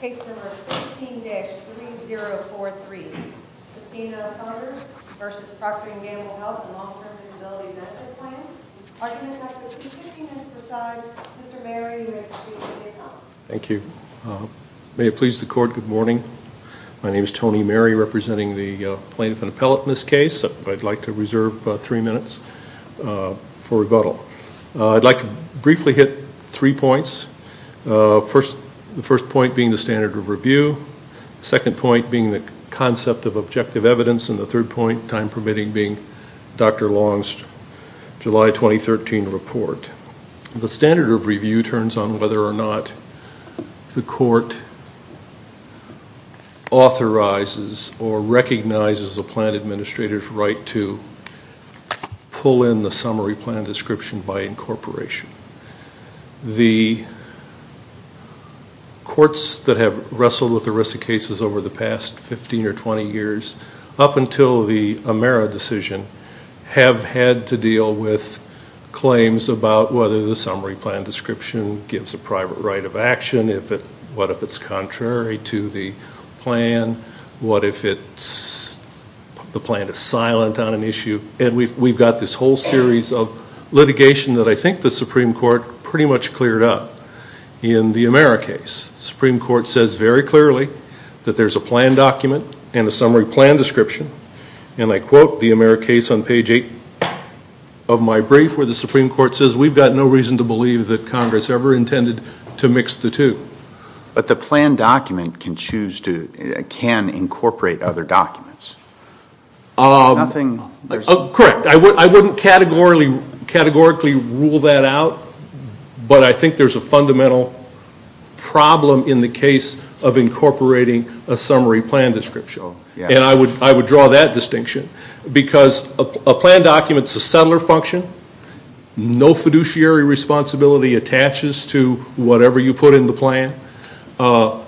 Case number 16-3043. Christina Saunders v. Procter & Gamble Health and Long-Term Disability Benefit Plan. Our team has with us today Mr. Mary and Mr. Jacob. Thank you. May it please the court, good morning. My name is Tony Mary representing the plaintiff and appellate in this case. I'd like to reserve three minutes for rebuttal. I'd like to briefly hit three points. The first point being the standard of review, second point being the concept of objective evidence, and the third point, time permitting, being Dr. Long's July 2013 report. The standard of review turns on whether or not the court authorizes or recognizes the plan administrator's right to pull in the summary plan description by the corporation. The courts that have wrestled with the risk of cases over the past 15 or 20 years, up until the Amera decision, have had to deal with claims about whether the summary plan description gives a private right of action, what if it's contrary to the plan, what if the plan is silent on an issue, and we've got this whole series of litigation that I think the Supreme Court pretty much cleared up in the Amera case. The Supreme Court says very clearly that there's a plan document and a summary plan description, and I quote the Amera case on page 8 of my brief where the Supreme Court says we've got no reason to believe that Congress ever intended to mix the two. But the plan document can incorporate other documents. Correct, I wouldn't categorically rule that out, but I think there's a fundamental problem in the case of incorporating a summary plan description, and I would draw that distinction because a plan document is a settler function. No fiduciary responsibility attaches to whatever you put in the plan. An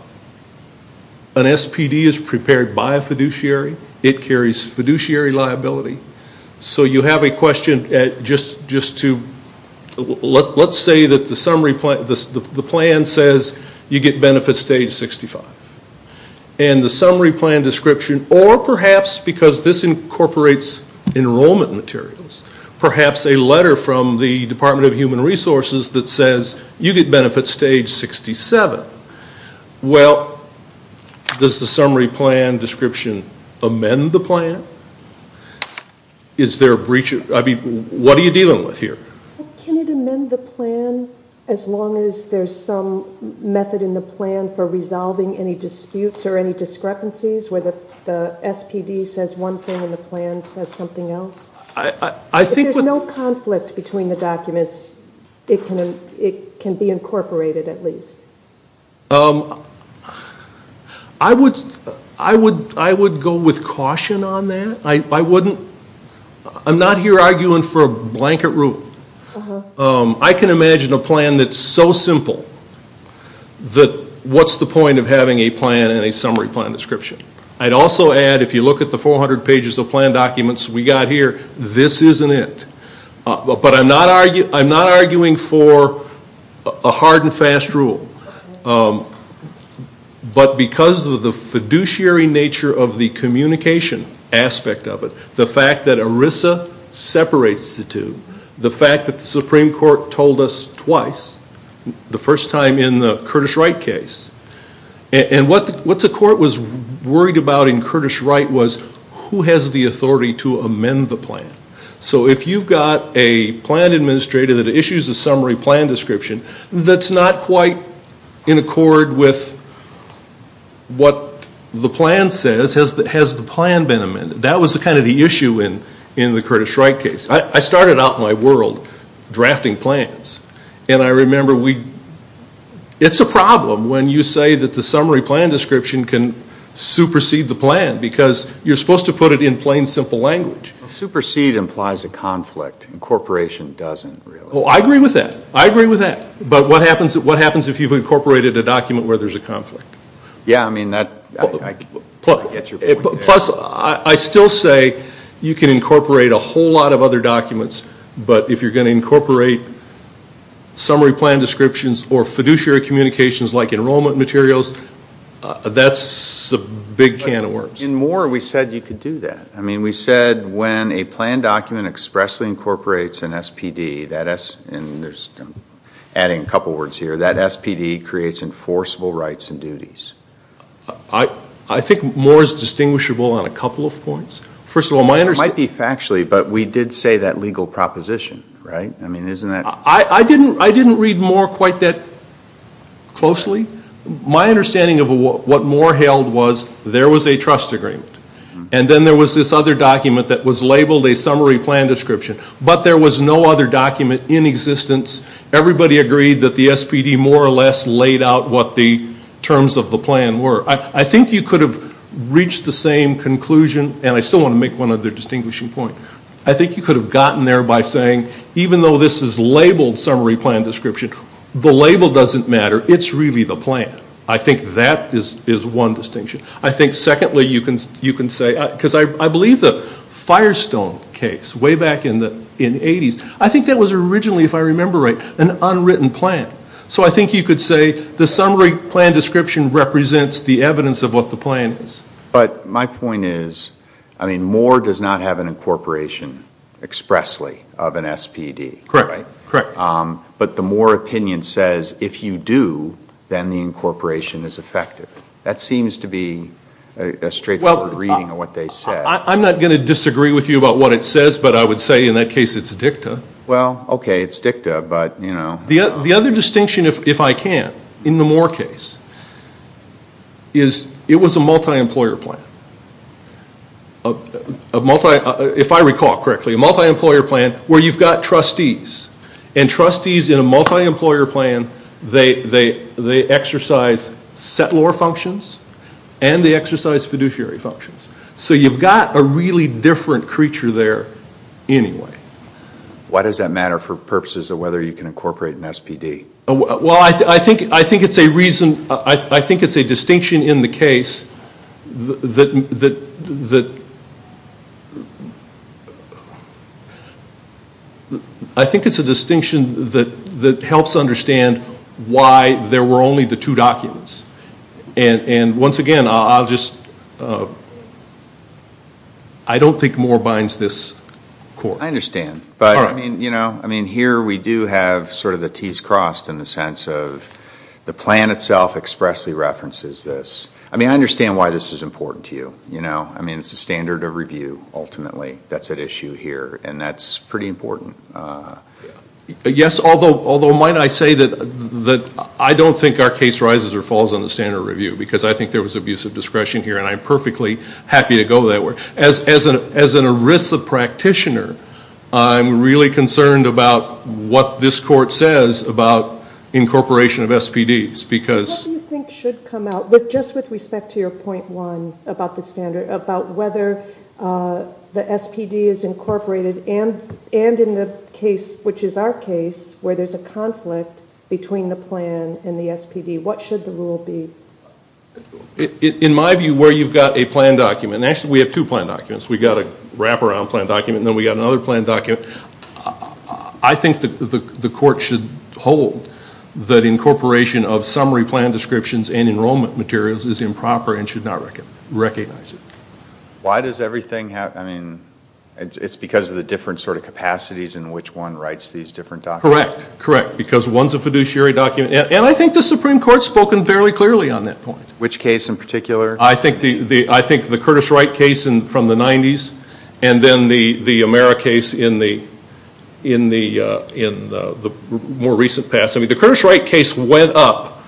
SPD is prepared by a fiduciary. It carries fiduciary liability. So you have a question, let's say that the plan says you get benefit stage 65, and the summary plan description, or perhaps because this incorporates enrollment materials. Perhaps a letter from the Department of Human Resources that says you get benefit stage 67. Well, does the summary plan description amend the plan? Is there a breach? I mean, what are you dealing with here? Can it amend the plan as long as there's some method in the plan for resolving any disputes or any conflicts? If there's no conflict between the documents, it can be incorporated at least. I would go with caution on that. I'm not here arguing for a blanket rule. I can imagine a plan that's so simple that what's the point of having a plan and a summary plan description? I'd also add if you look at the 400 pages of plan documents we got here, this isn't it. But I'm not arguing for a hard and fast rule. But because of the fiduciary nature of the communication aspect of it, the fact that ERISA separates the two, the fact that the Supreme Court told us twice, the first time in the Curtis Wright case. And what the court was worried about in Curtis Wright was who has the authority to amend the plan? So if you've got a plan administrator that issues a summary plan description that's not quite in accord with what the plan says, has the plan been amended? That was kind of the issue in the Curtis Wright case. I started out my world drafting plans. And I remember we, it's a problem when you say that the summary plan description can supersede the plan. Because you're supposed to put it in plain, simple language. Supersede implies a conflict. Incorporation doesn't really. Oh, I agree with that. I agree with that. But what happens if you've incorporated a document where there's a conflict? Yeah, I mean that, I get your point. Plus, I still say you can incorporate a whole lot of other documents. But if you're going to incorporate summary plan descriptions or fiduciary communications like enrollment materials, that's a big can of worms. In Moore, we said you could do that. I mean, we said when a plan document expressly incorporates an SPD, and there's adding a couple words here, that SPD creates enforceable rights and duties. I think Moore's distinguishable on a couple of points. First of all, my understanding It might be factually, but we did say that legal proposition, right? I mean, isn't that did Moore quite that closely? My understanding of what Moore held was there was a trust agreement. And then there was this other document that was labeled a summary plan description. But there was no other document in existence. Everybody agreed that the SPD more or less laid out what the terms of the plan were. I think you could have reached the same conclusion, and I still want to make one other distinguishing point. I think you could have gotten there by saying, even though this is labeled summary plan description, the label doesn't matter. It's really the plan. I think that is one distinction. I think secondly, you can say, because I believe the Firestone case way back in the 80s, I think that was originally, if I remember right, an unwritten plan. So I think you could say, the summary plan description represents the evidence of what the plan is. But my point is, I mean, Moore does not have an incorporation expressly of an SPD, right? Correct. But the Moore opinion says, if you do, then the incorporation is effective. That seems to be a straightforward reading of what they said. I'm not going to disagree with you about what it says, but I would say in that case it's dicta. Well, okay, it's dicta, but you know. The other distinction, if I can, in the Moore case, is it was a multi-employer plan. If I recall correctly, a multi-employer plan where you've got trustees, and trustees in a multi-employer plan, they exercise settlor functions and they exercise fiduciary functions. So you've got a really different creature there anyway. Why does that matter for purposes of whether you can incorporate an SPD? Well, I think it's a reason, I think it's a distinction in the case that, I think it's a distinction that helps understand why there were only the two documents. And once again, I'll just, I don't think Moore binds this court. I understand, but I mean, here we do have sort of the T's crossed in the sense of the plan itself expressly references this. I mean, I understand why this is important to you. I mean, it's a standard of review, ultimately, that's at issue here, and that's pretty important. Yes, although might I say that I don't think our case rises or falls on the standard of review, because I think there was abusive discretion here, and I'm perfectly happy to go that way. As an ERISA practitioner, I'm really concerned about what this court says about incorporation of SPDs, because- What do you think should come out, just with respect to your point one about the standard, about whether the SPD is incorporated and in the case, which is our case, where there's a conflict between the plan and the SPD, what should the rule be? In my view, where you've got a plan document, and actually we have two plan documents. We've got a wraparound plan document, and then we've got another plan document. I think the court should hold that incorporation of summary plan descriptions and enrollment materials is improper and should not recognize it. Why does everything have, I mean, it's because of the different sort of capacities in which one writes these different documents? Correct, correct, because one's a fiduciary document, and I think the Supreme Court's spoken fairly clearly on that point. Which case in particular? I think the Curtis Wright case from the 90s, and then the Amera case in the more recent past. I mean, the Curtis Wright case went up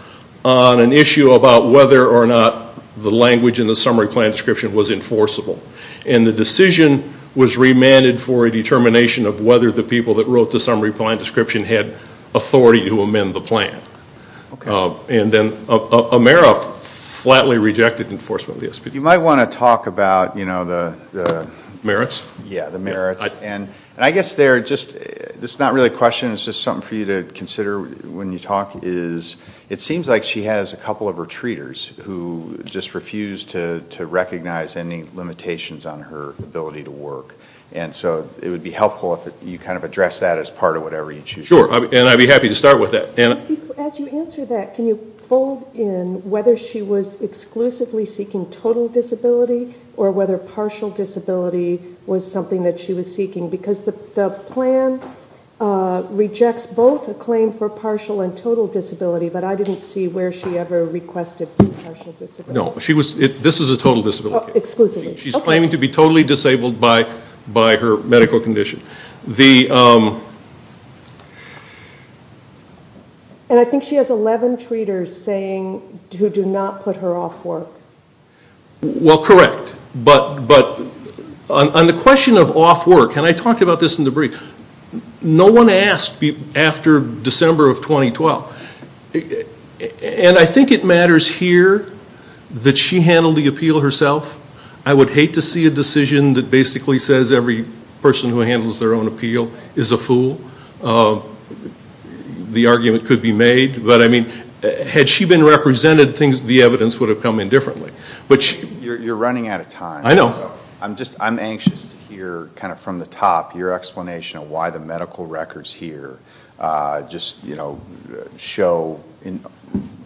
on an issue about whether or not the language in the summary plan description was enforceable, and the decision was remanded for a determination of whether the people that wrote the summary plan description had authority to amend the plan. Okay. And then Amera flatly rejected enforcement of the SPD. You might want to talk about, you know, the- Merits? Yeah, the merits, and I guess they're just, it's not really a question, it's just something for you to consider when you talk, is it seems like she has a couple of retreaters who just refuse to recognize any limitations on her ability to work, and so it would be helpful if you kind of addressed that as part of whatever you choose to do. Sure, and I'd be happy to start with that. As you answer that, can you fold in whether she was exclusively seeking total disability, or whether partial disability was something that she was seeking? Because the plan rejects both a claim for partial and total disability, but I didn't see where she ever requested partial disability. No, she was, this is a total disability case. Exclusively, okay. She's claiming to be totally disabled by her medical condition. And I think she has 11 treaters saying, who do not put her off work. Well, correct, but on the question of off work, and I talked about this in the brief, no one asked after December of 2012, and I think it matters here that she handled the appeal herself. I would hate to see a decision that basically says every person who handles their own appeal is a fool. The argument could be made, but I mean, had she been represented, the evidence would have come in differently. You're running out of time. I know. I'm anxious to hear, kind of from the top, your explanation of why the medical records here just show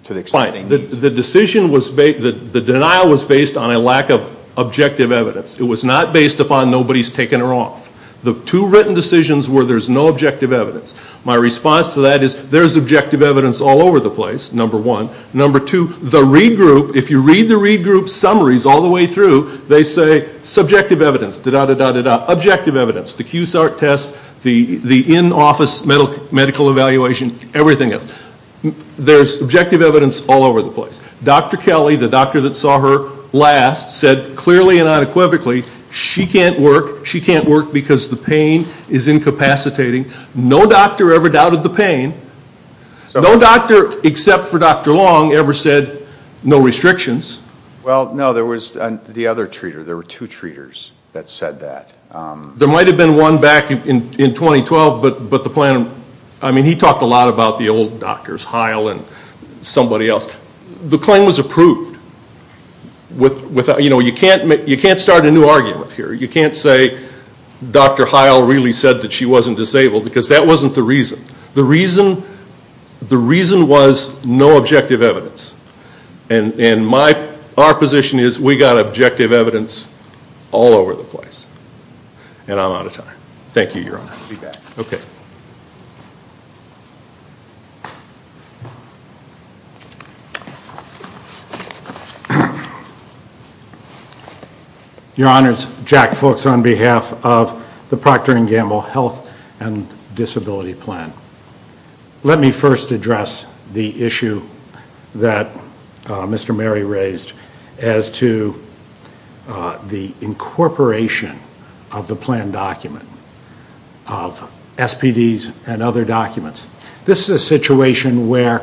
to the extent. The decision was, the denial was based on a lack of objective evidence. It was not based upon nobody's taking her off. The two written decisions were there's no objective evidence. My response to that is there's objective evidence all over the place, number one. Number two, the read group, if you read the read group's summaries all the way through, they say subjective evidence, da-da-da-da-da, objective evidence. The QSART test, the in-office medical evaluation, everything. There's subjective evidence all over the place. Dr. Kelly, the doctor that saw her last, said clearly and unequivocally, she can't work. Because the pain is incapacitating. No doctor ever doubted the pain. No doctor, except for Dr. Long, ever said no restrictions. Well, no, there was the other treater. There were two treaters that said that. There might have been one back in 2012, but the plan, I mean, he talked a lot about the old doctors, Heil and somebody else. The claim was approved. You can't start a new argument here. You can't say Dr. Heil really said that she wasn't disabled because that wasn't the reason. The reason was no objective evidence. And our position is we got objective evidence all over the place. And I'm out of time. Thank you, Your Honor. I'll be back. Okay. Thank you. Your Honors, Jack Fuchs on behalf of the Procter & Gamble Health and Disability Plan. Let me first address the issue that Mr. Mary raised as to the incorporation of the plan document of SPDs and other documents. This is a situation where,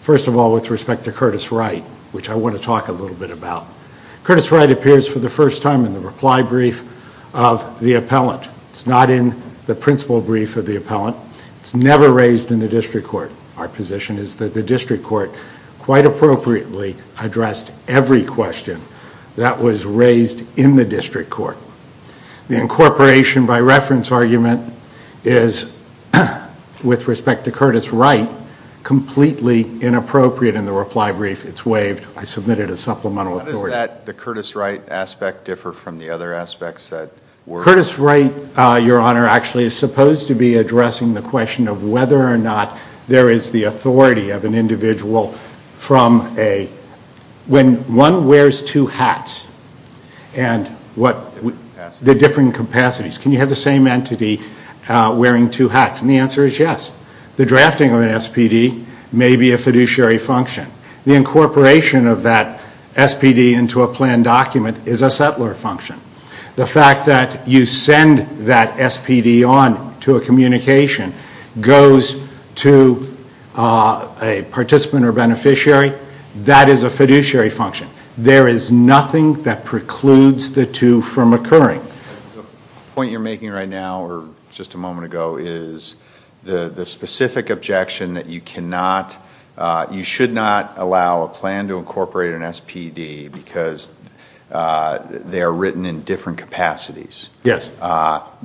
first of all, with respect to Curtis Wright, which I want to talk a little bit about. Curtis Wright appears for the first time in the reply brief of the appellant. It's not in the principal brief of the appellant. It's never raised in the district court. Our position is that the district court quite appropriately addressed every question that was raised in the district court. The incorporation by reference argument is, with respect to Curtis Wright, completely inappropriate in the reply brief. It's waived. I submitted a supplemental authority. How does that, the Curtis Wright aspect, differ from the other aspects that were... Curtis Wright, Your Honor, actually is supposed to be addressing the question of whether or not there is the authority of an individual from a... When one wears two hats and what... The different capacities. The different capacities. Can you have the same entity wearing two hats? And the answer is yes. The drafting of an SPD may be a fiduciary function. The incorporation of that SPD into a plan document is a settler function. The fact that you send that SPD on to a communication goes to a participant or beneficiary. That is a fiduciary function. There is nothing that precludes the two from occurring. The point you're making right now, or just a moment ago, is the specific objection that you cannot... Yes.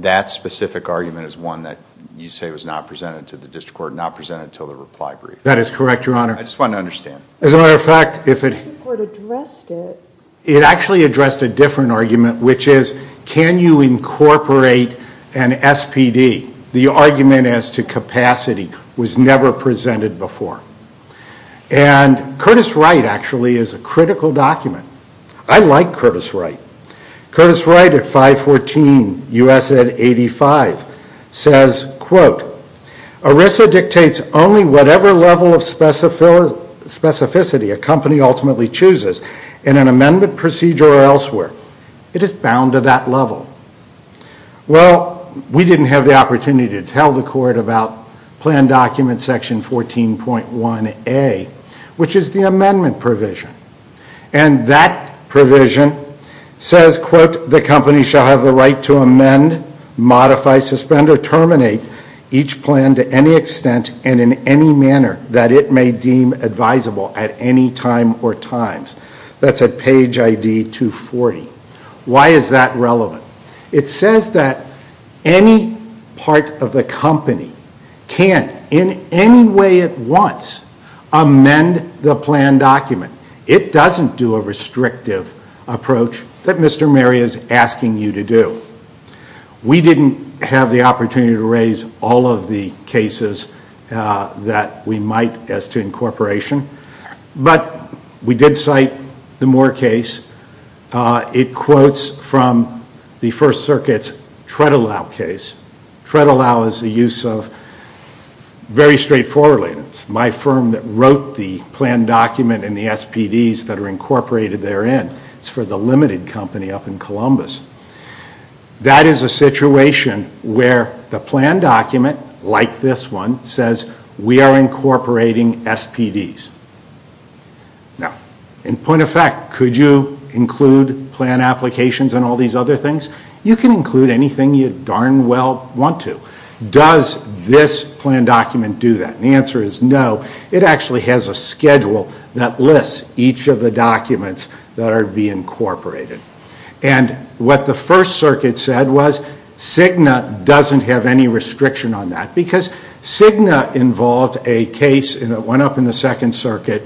That specific argument is one that you say was not presented to the district court, not presented until the reply brief. That is correct, Your Honor. I just wanted to understand. As a matter of fact, if it... The district court addressed it. It actually addressed a different argument, which is can you incorporate an SPD? The argument as to capacity was never presented before. And Curtis Wright actually is a critical document. I like Curtis Wright. Curtis Wright at 514 U.S. Ed. 85 says, quote, Arisa dictates only whatever level of specificity a company ultimately chooses in an amendment procedure or elsewhere. It is bound to that level. Well, we didn't have the opportunity to tell the court about plan document section 14.1A, which is the amendment provision. And that provision says, quote, The company shall have the right to amend, modify, suspend, or terminate each plan to any extent and in any manner that it may deem advisable at any time or times. That's at page ID 240. Why is that relevant? It says that any part of the company can, in any way it wants, amend the plan document. It doesn't do a restrictive approach that Mr. Mary is asking you to do. We didn't have the opportunity to raise all of the cases that we might as to incorporation. But we did cite the Moore case. It quotes from the First Circuit's TreadAllow case. TreadAllow is a use of very straightforward. It's my firm that wrote the plan document and the SPDs that are incorporated therein. It's for the limited company up in Columbus. That is a situation where the plan document, like this one, says we are incorporating SPDs. Now, in point of fact, could you include plan applications and all these other things? You can include anything you darn well want to. Does this plan document do that? The answer is no. It actually has a schedule that lists each of the documents that are to be incorporated. And what the First Circuit said was Cigna doesn't have any restriction on that. Because Cigna involved a case that went up in the Second Circuit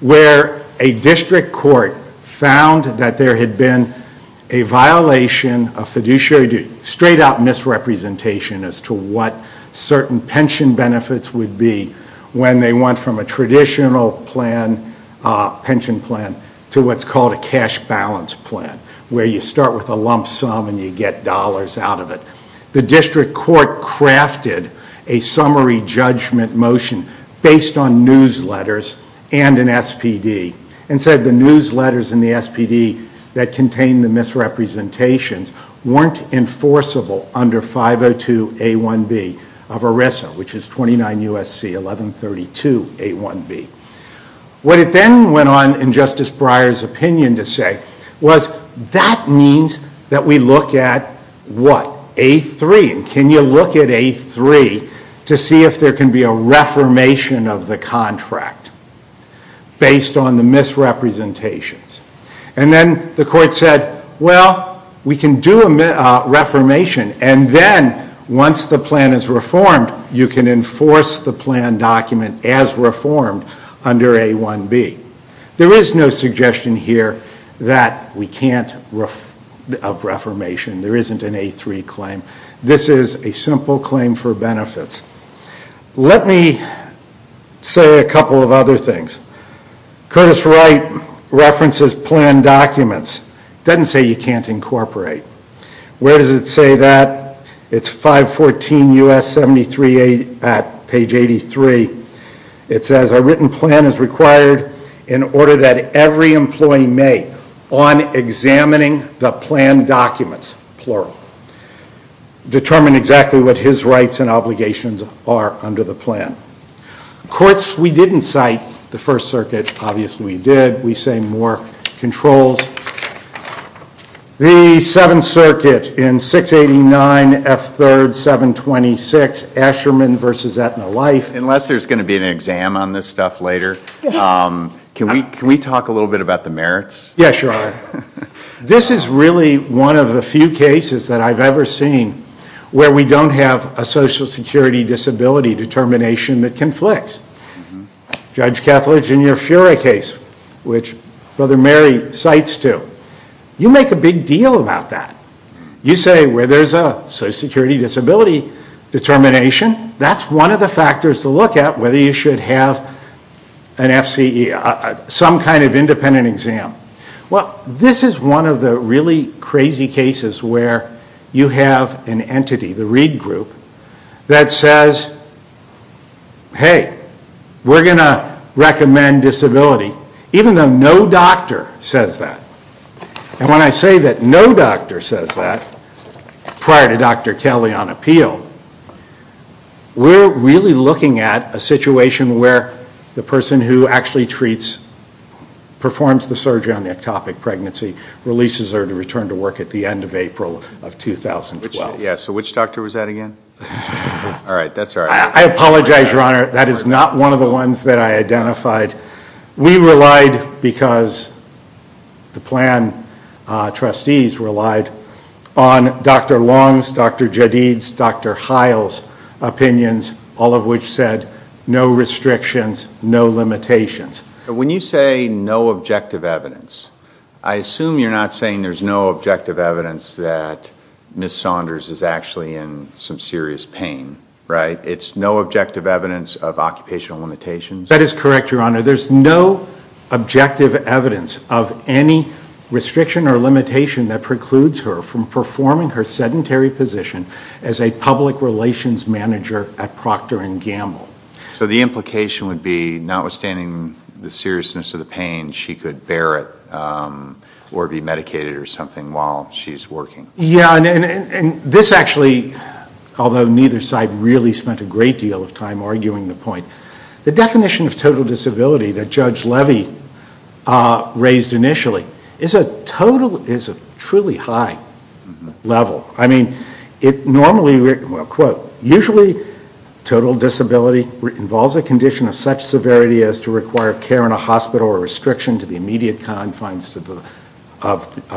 where a district court found that there had been a violation of fiduciary duty, straight-up misrepresentation as to what certain pension benefits would be when they went from a traditional pension plan to what's called a cash balance plan, where you start with a lump sum and you get dollars out of it. The district court crafted a summary judgment motion based on newsletters and an SPD and said the newsletters and the SPD that contained the misrepresentations weren't enforceable under 502A1B of ERISA, which is 29 U.S.C. 1132A1B. What it then went on in Justice Breyer's opinion to say was that means that we look at what? A3. Can you look at A3 to see if there can be a reformation of the contract based on the misrepresentations? And then the court said, well, we can do a reformation and then once the plan is reformed, you can enforce the plan document as reformed under A1B. There is no suggestion here that we can't have reformation. There isn't an A3 claim. This is a simple claim for benefits. Let me say a couple of other things. Curtis Wright references plan documents. Doesn't say you can't incorporate. Where does it say that? It's 514 U.S. 73 at page 83. It says a written plan is required in order that every employee may, on examining the plan documents, plural, determine exactly what his rights and obligations are under the plan. Courts, we didn't cite the First Circuit. Obviously, we did. We say more controls. The Seventh Circuit in 689 F3, 726 Asherman v. Etna Life. Unless there's going to be an exam on this stuff later, can we talk a little bit about the merits? Yes, Your Honor. This is really one of the few cases that I've ever seen where we don't have a Social Security disability determination that conflicts. Judge Kethledge in your Fura case, which Brother Mary cites too. You make a big deal about that. You say where there's a Social Security disability determination, that's one of the factors to look at whether you should have an FCE, some kind of independent exam. Well, this is one of the really crazy cases where you have an entity, the Reed Group, that says, hey, we're going to recommend disability, even though no doctor says that. And when I say that no doctor says that prior to Dr. Kelly on appeal, we're really looking at a situation where the person who actually performs the surgery on the ectopic pregnancy releases her to return to work at the end of April of 2012. Yeah, so which doctor was that again? All right, that's all right. I apologize, Your Honor, that is not one of the ones that I identified. We relied because the plan trustees relied on Dr. Long's, Dr. Jadid's, Dr. Heil's opinions, all of which said no restrictions, no limitations. When you say no objective evidence, I assume you're not saying there's no objective evidence that Ms. Saunders is actually in some serious pain, right? It's no objective evidence of occupational limitations? That is correct, Your Honor. There's no objective evidence of any restriction or limitation that precludes her from performing her sedentary position as a public relations manager at Procter & Gamble. So the implication would be, notwithstanding the seriousness of the pain, she could bear it or be medicated or something while she's working? Yeah, and this actually, although neither side really spent a great deal of time arguing the point, the definition of total disability that Judge Levy raised initially is a truly high level. I mean, it normally, well, quote, usually total disability involves a condition of such severity as to require care in a hospital or a restriction to the immediate confines of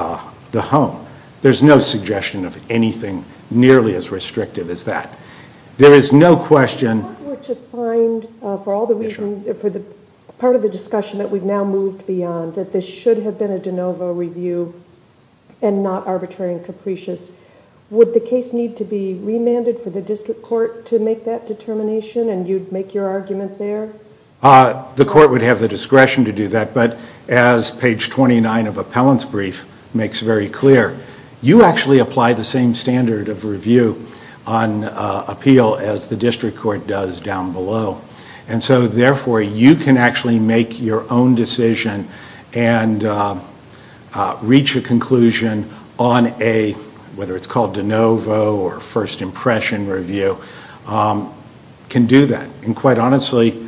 the home. There's no suggestion of anything nearly as restrictive as that. There is no question. I'm here to find, for all the reasons, for the part of the discussion that we've now moved beyond, that this should have been a de novo review and not arbitrary and capricious. Would the case need to be remanded for the district court to make that determination, and you'd make your argument there? The court would have the discretion to do that. But as page 29 of Appellant's brief makes very clear, you actually apply the same standard of review on appeal as the district court does down below. And so, therefore, you can actually make your own decision and reach a conclusion on a, whether it's called de novo or first impression review, can do that. And quite honestly,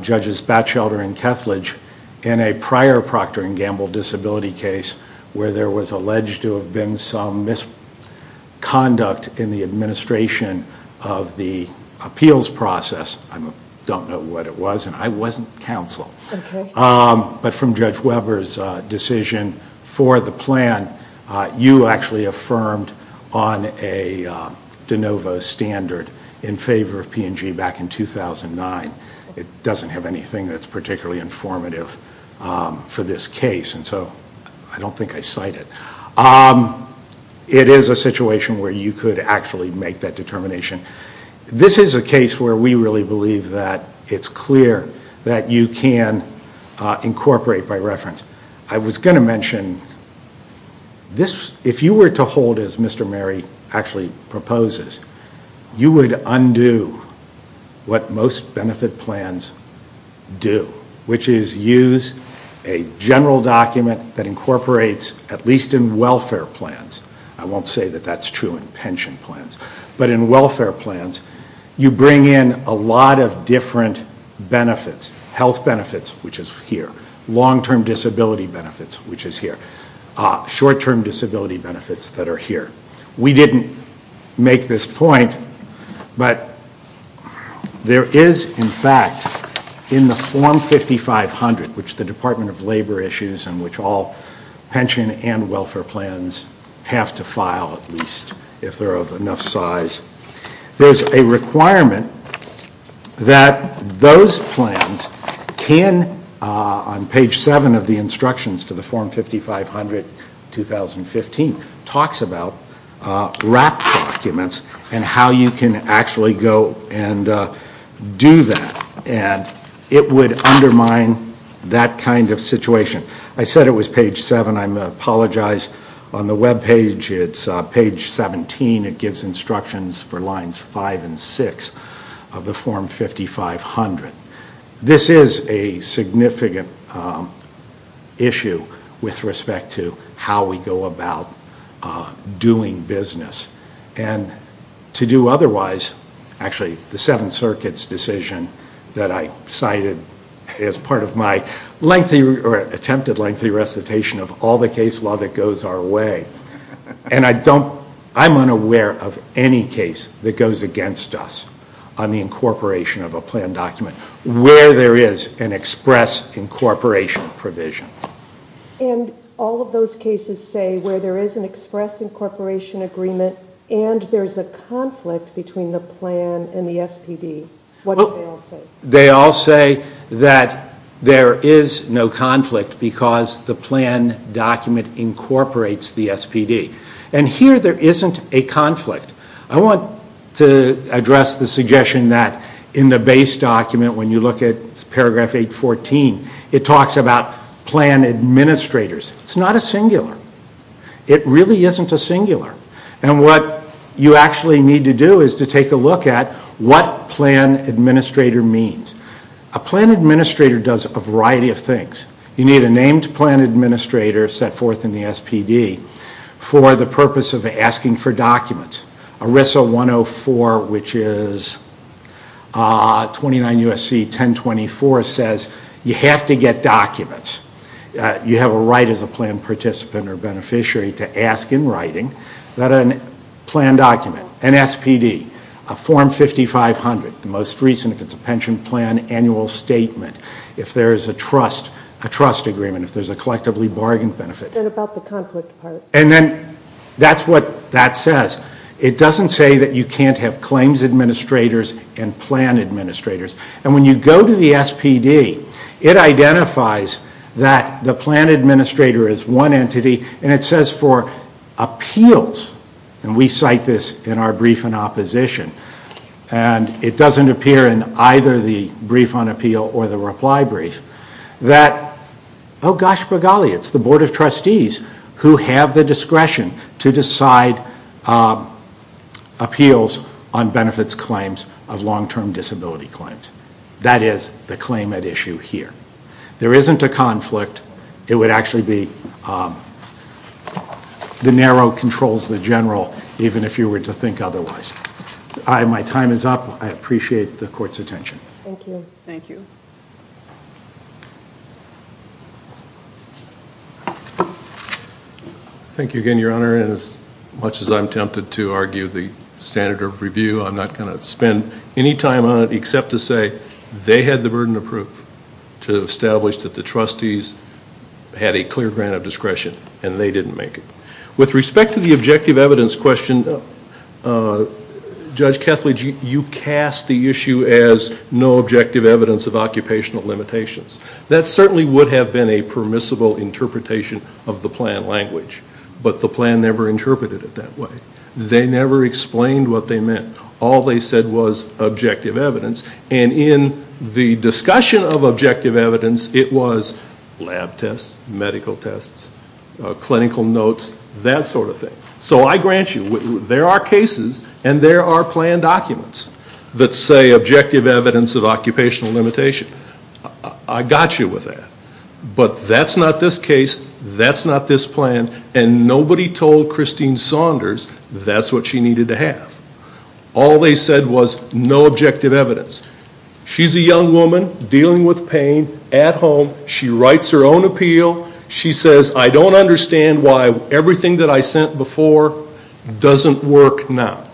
Judges Batchelder and Kethledge, in a prior Procter & Gamble disability case where there was alleged to have been some misconduct in the administration of the appeals process, I don't know what it was, and I wasn't counsel. But from Judge Weber's decision for the plan, you actually affirmed on a de novo standard in favor of P&G back in 2009. It doesn't have anything that's particularly informative for this case, and so I don't think I cite it. It is a situation where you could actually make that determination. This is a case where we really believe that it's clear that you can incorporate by reference. I was going to mention, if you were to hold as Mr. Mary actually proposes, you would undo what most benefit plans do, which is use a general document that incorporates, at least in welfare plans. I won't say that that's true in pension plans. But in welfare plans, you bring in a lot of different benefits. Health benefits, which is here. Long-term disability benefits, which is here. Short-term disability benefits that are here. We didn't make this point, but there is, in fact, in the Form 5500, which the Department of Labor issues and which all pension and welfare plans have to file, at least if they're of enough size, there's a requirement that those plans can, on page 7 of the instructions to the Form 5500-2015, talks about wrapped documents and how you can actually go and do that. It would undermine that kind of situation. I said it was page 7. I apologize. On the webpage, it's page 17. It gives instructions for lines 5 and 6 of the Form 5500. This is a significant issue with respect to how we go about doing business. And to do otherwise, actually, the Seventh Circuit's decision that I cited as part of my lengthy or attempted lengthy recitation of all the case law that goes our way. And I'm unaware of any case that goes against us on the incorporation of a plan document where there is an express incorporation provision. And all of those cases say where there is an express incorporation agreement and there's a conflict between the plan and the SPD. What do they all say? They all say that there is no conflict because the plan document incorporates the SPD. And here there isn't a conflict. I want to address the suggestion that in the base document, when you look at paragraph 814, it talks about plan administrators. It's not a singular. It really isn't a singular. And what you actually need to do is to take a look at what plan administrator means. A plan administrator does a variety of things. You need a named plan administrator set forth in the SPD for the purpose of asking for documents. ERISA 104, which is 29 U.S.C. 1024, says you have to get documents. You have a right as a plan participant or beneficiary to ask in writing that a plan document, an SPD, a form 5500, the most recent if it's a pension plan annual statement, if there is a trust, a trust agreement, if there's a collectively bargained benefit. And about the conflict part. And then that's what that says. It doesn't say that you can't have claims administrators and plan administrators. And when you go to the SPD, it identifies that the plan administrator is one entity, and it says for appeals, and we cite this in our brief in opposition, and it doesn't appear in either the brief on appeal or the reply brief, that, oh gosh, by golly, it's the Board of Trustees who have the discretion to decide appeals on benefits claims of long-term disability claims. That is the claim at issue here. There isn't a conflict. It would actually be the narrow controls, the general, even if you were to think otherwise. My time is up. I appreciate the court's attention. Thank you. Thank you again, Your Honor. And as much as I'm tempted to argue the standard of review, I'm not going to spend any time on it except to say they had the burden of proof to establish that the trustees had a clear grant of discretion, and they didn't make it. With respect to the objective evidence question, Judge Kethledge, you cast the issue as no objective evidence of occupational limitations. That certainly would have been a permissible interpretation of the plan language, but the plan never interpreted it that way. They never explained what they meant. All they said was objective evidence, and in the discussion of objective evidence, it was lab tests, medical tests, clinical notes, that sort of thing. So I grant you there are cases and there are plan documents that say objective evidence of occupational limitation. I got you with that. But that's not this case. That's not this plan. And nobody told Christine Saunders that's what she needed to have. All they said was no objective evidence. She's a young woman dealing with pain at home. She writes her own appeal. She says, I don't understand why everything that I sent before doesn't work now.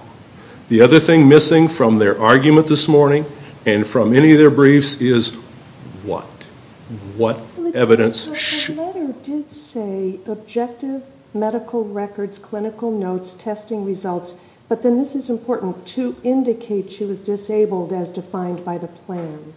The other thing missing from their argument this morning and from any of their briefs is what? What evidence? The letter did say objective medical records, clinical notes, testing results, but then this is important, to indicate she was disabled as defined by the plan.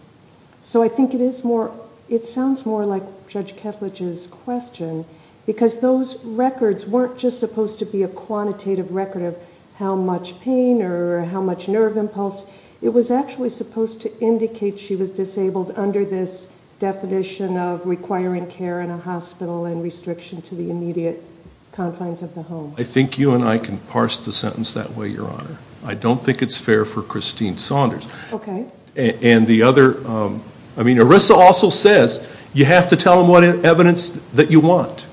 So I think it sounds more like Judge Ketledge's question, because those records weren't just supposed to be a quantitative record of how much pain or how much nerve impulse. It was actually supposed to indicate she was disabled under this definition of requiring care in a hospital and restriction to the immediate confines of the home. I think you and I can parse the sentence that way, Your Honor. I don't think it's fair for Christine Saunders. Okay. And the other, I mean, Arissa also says you have to tell them what evidence that you want.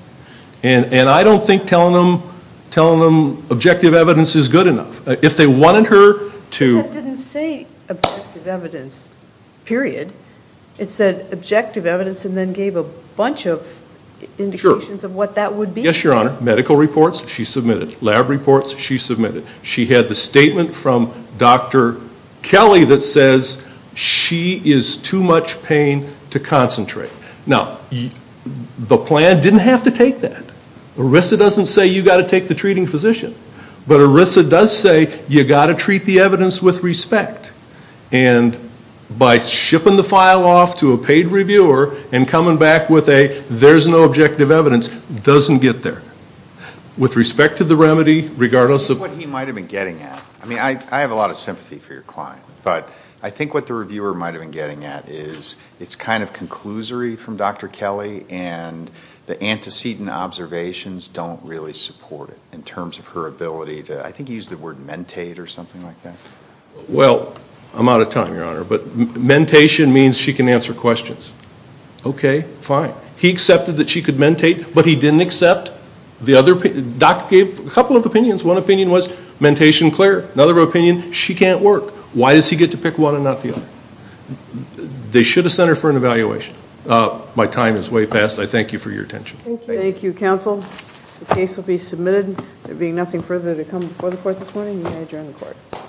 And I don't think telling them objective evidence is good enough. If they wanted her to- That didn't say objective evidence, period. It said objective evidence and then gave a bunch of indications of what that would be. Yes, Your Honor. Medical reports, she submitted. Lab reports, she submitted. She had the statement from Dr. Kelly that says she is too much pain to concentrate. Now, the plan didn't have to take that. Arissa doesn't say you've got to take the treating physician. But Arissa does say you've got to treat the evidence with respect. And by shipping the file off to a paid reviewer and coming back with a there's no objective evidence doesn't get there. With respect to the remedy, regardless of- That's what he might have been getting at. I mean, I have a lot of sympathy for your client. But I think what the reviewer might have been getting at is it's kind of conclusory from Dr. Kelly and the antecedent observations don't really support it in terms of her ability to, I think he used the word mentate or something like that. Well, I'm out of time, Your Honor. But mentation means she can answer questions. Okay, fine. He accepted that she could mentate, but he didn't accept the other- Doc gave a couple of opinions. One opinion was mentation clear. Another opinion, she can't work. Why does he get to pick one and not the other? They should have sent her for an evaluation. My time is way past. I thank you for your attention. Thank you. Thank you, counsel. The case will be submitted. There being nothing further to come before the court this morning, may I adjourn the court?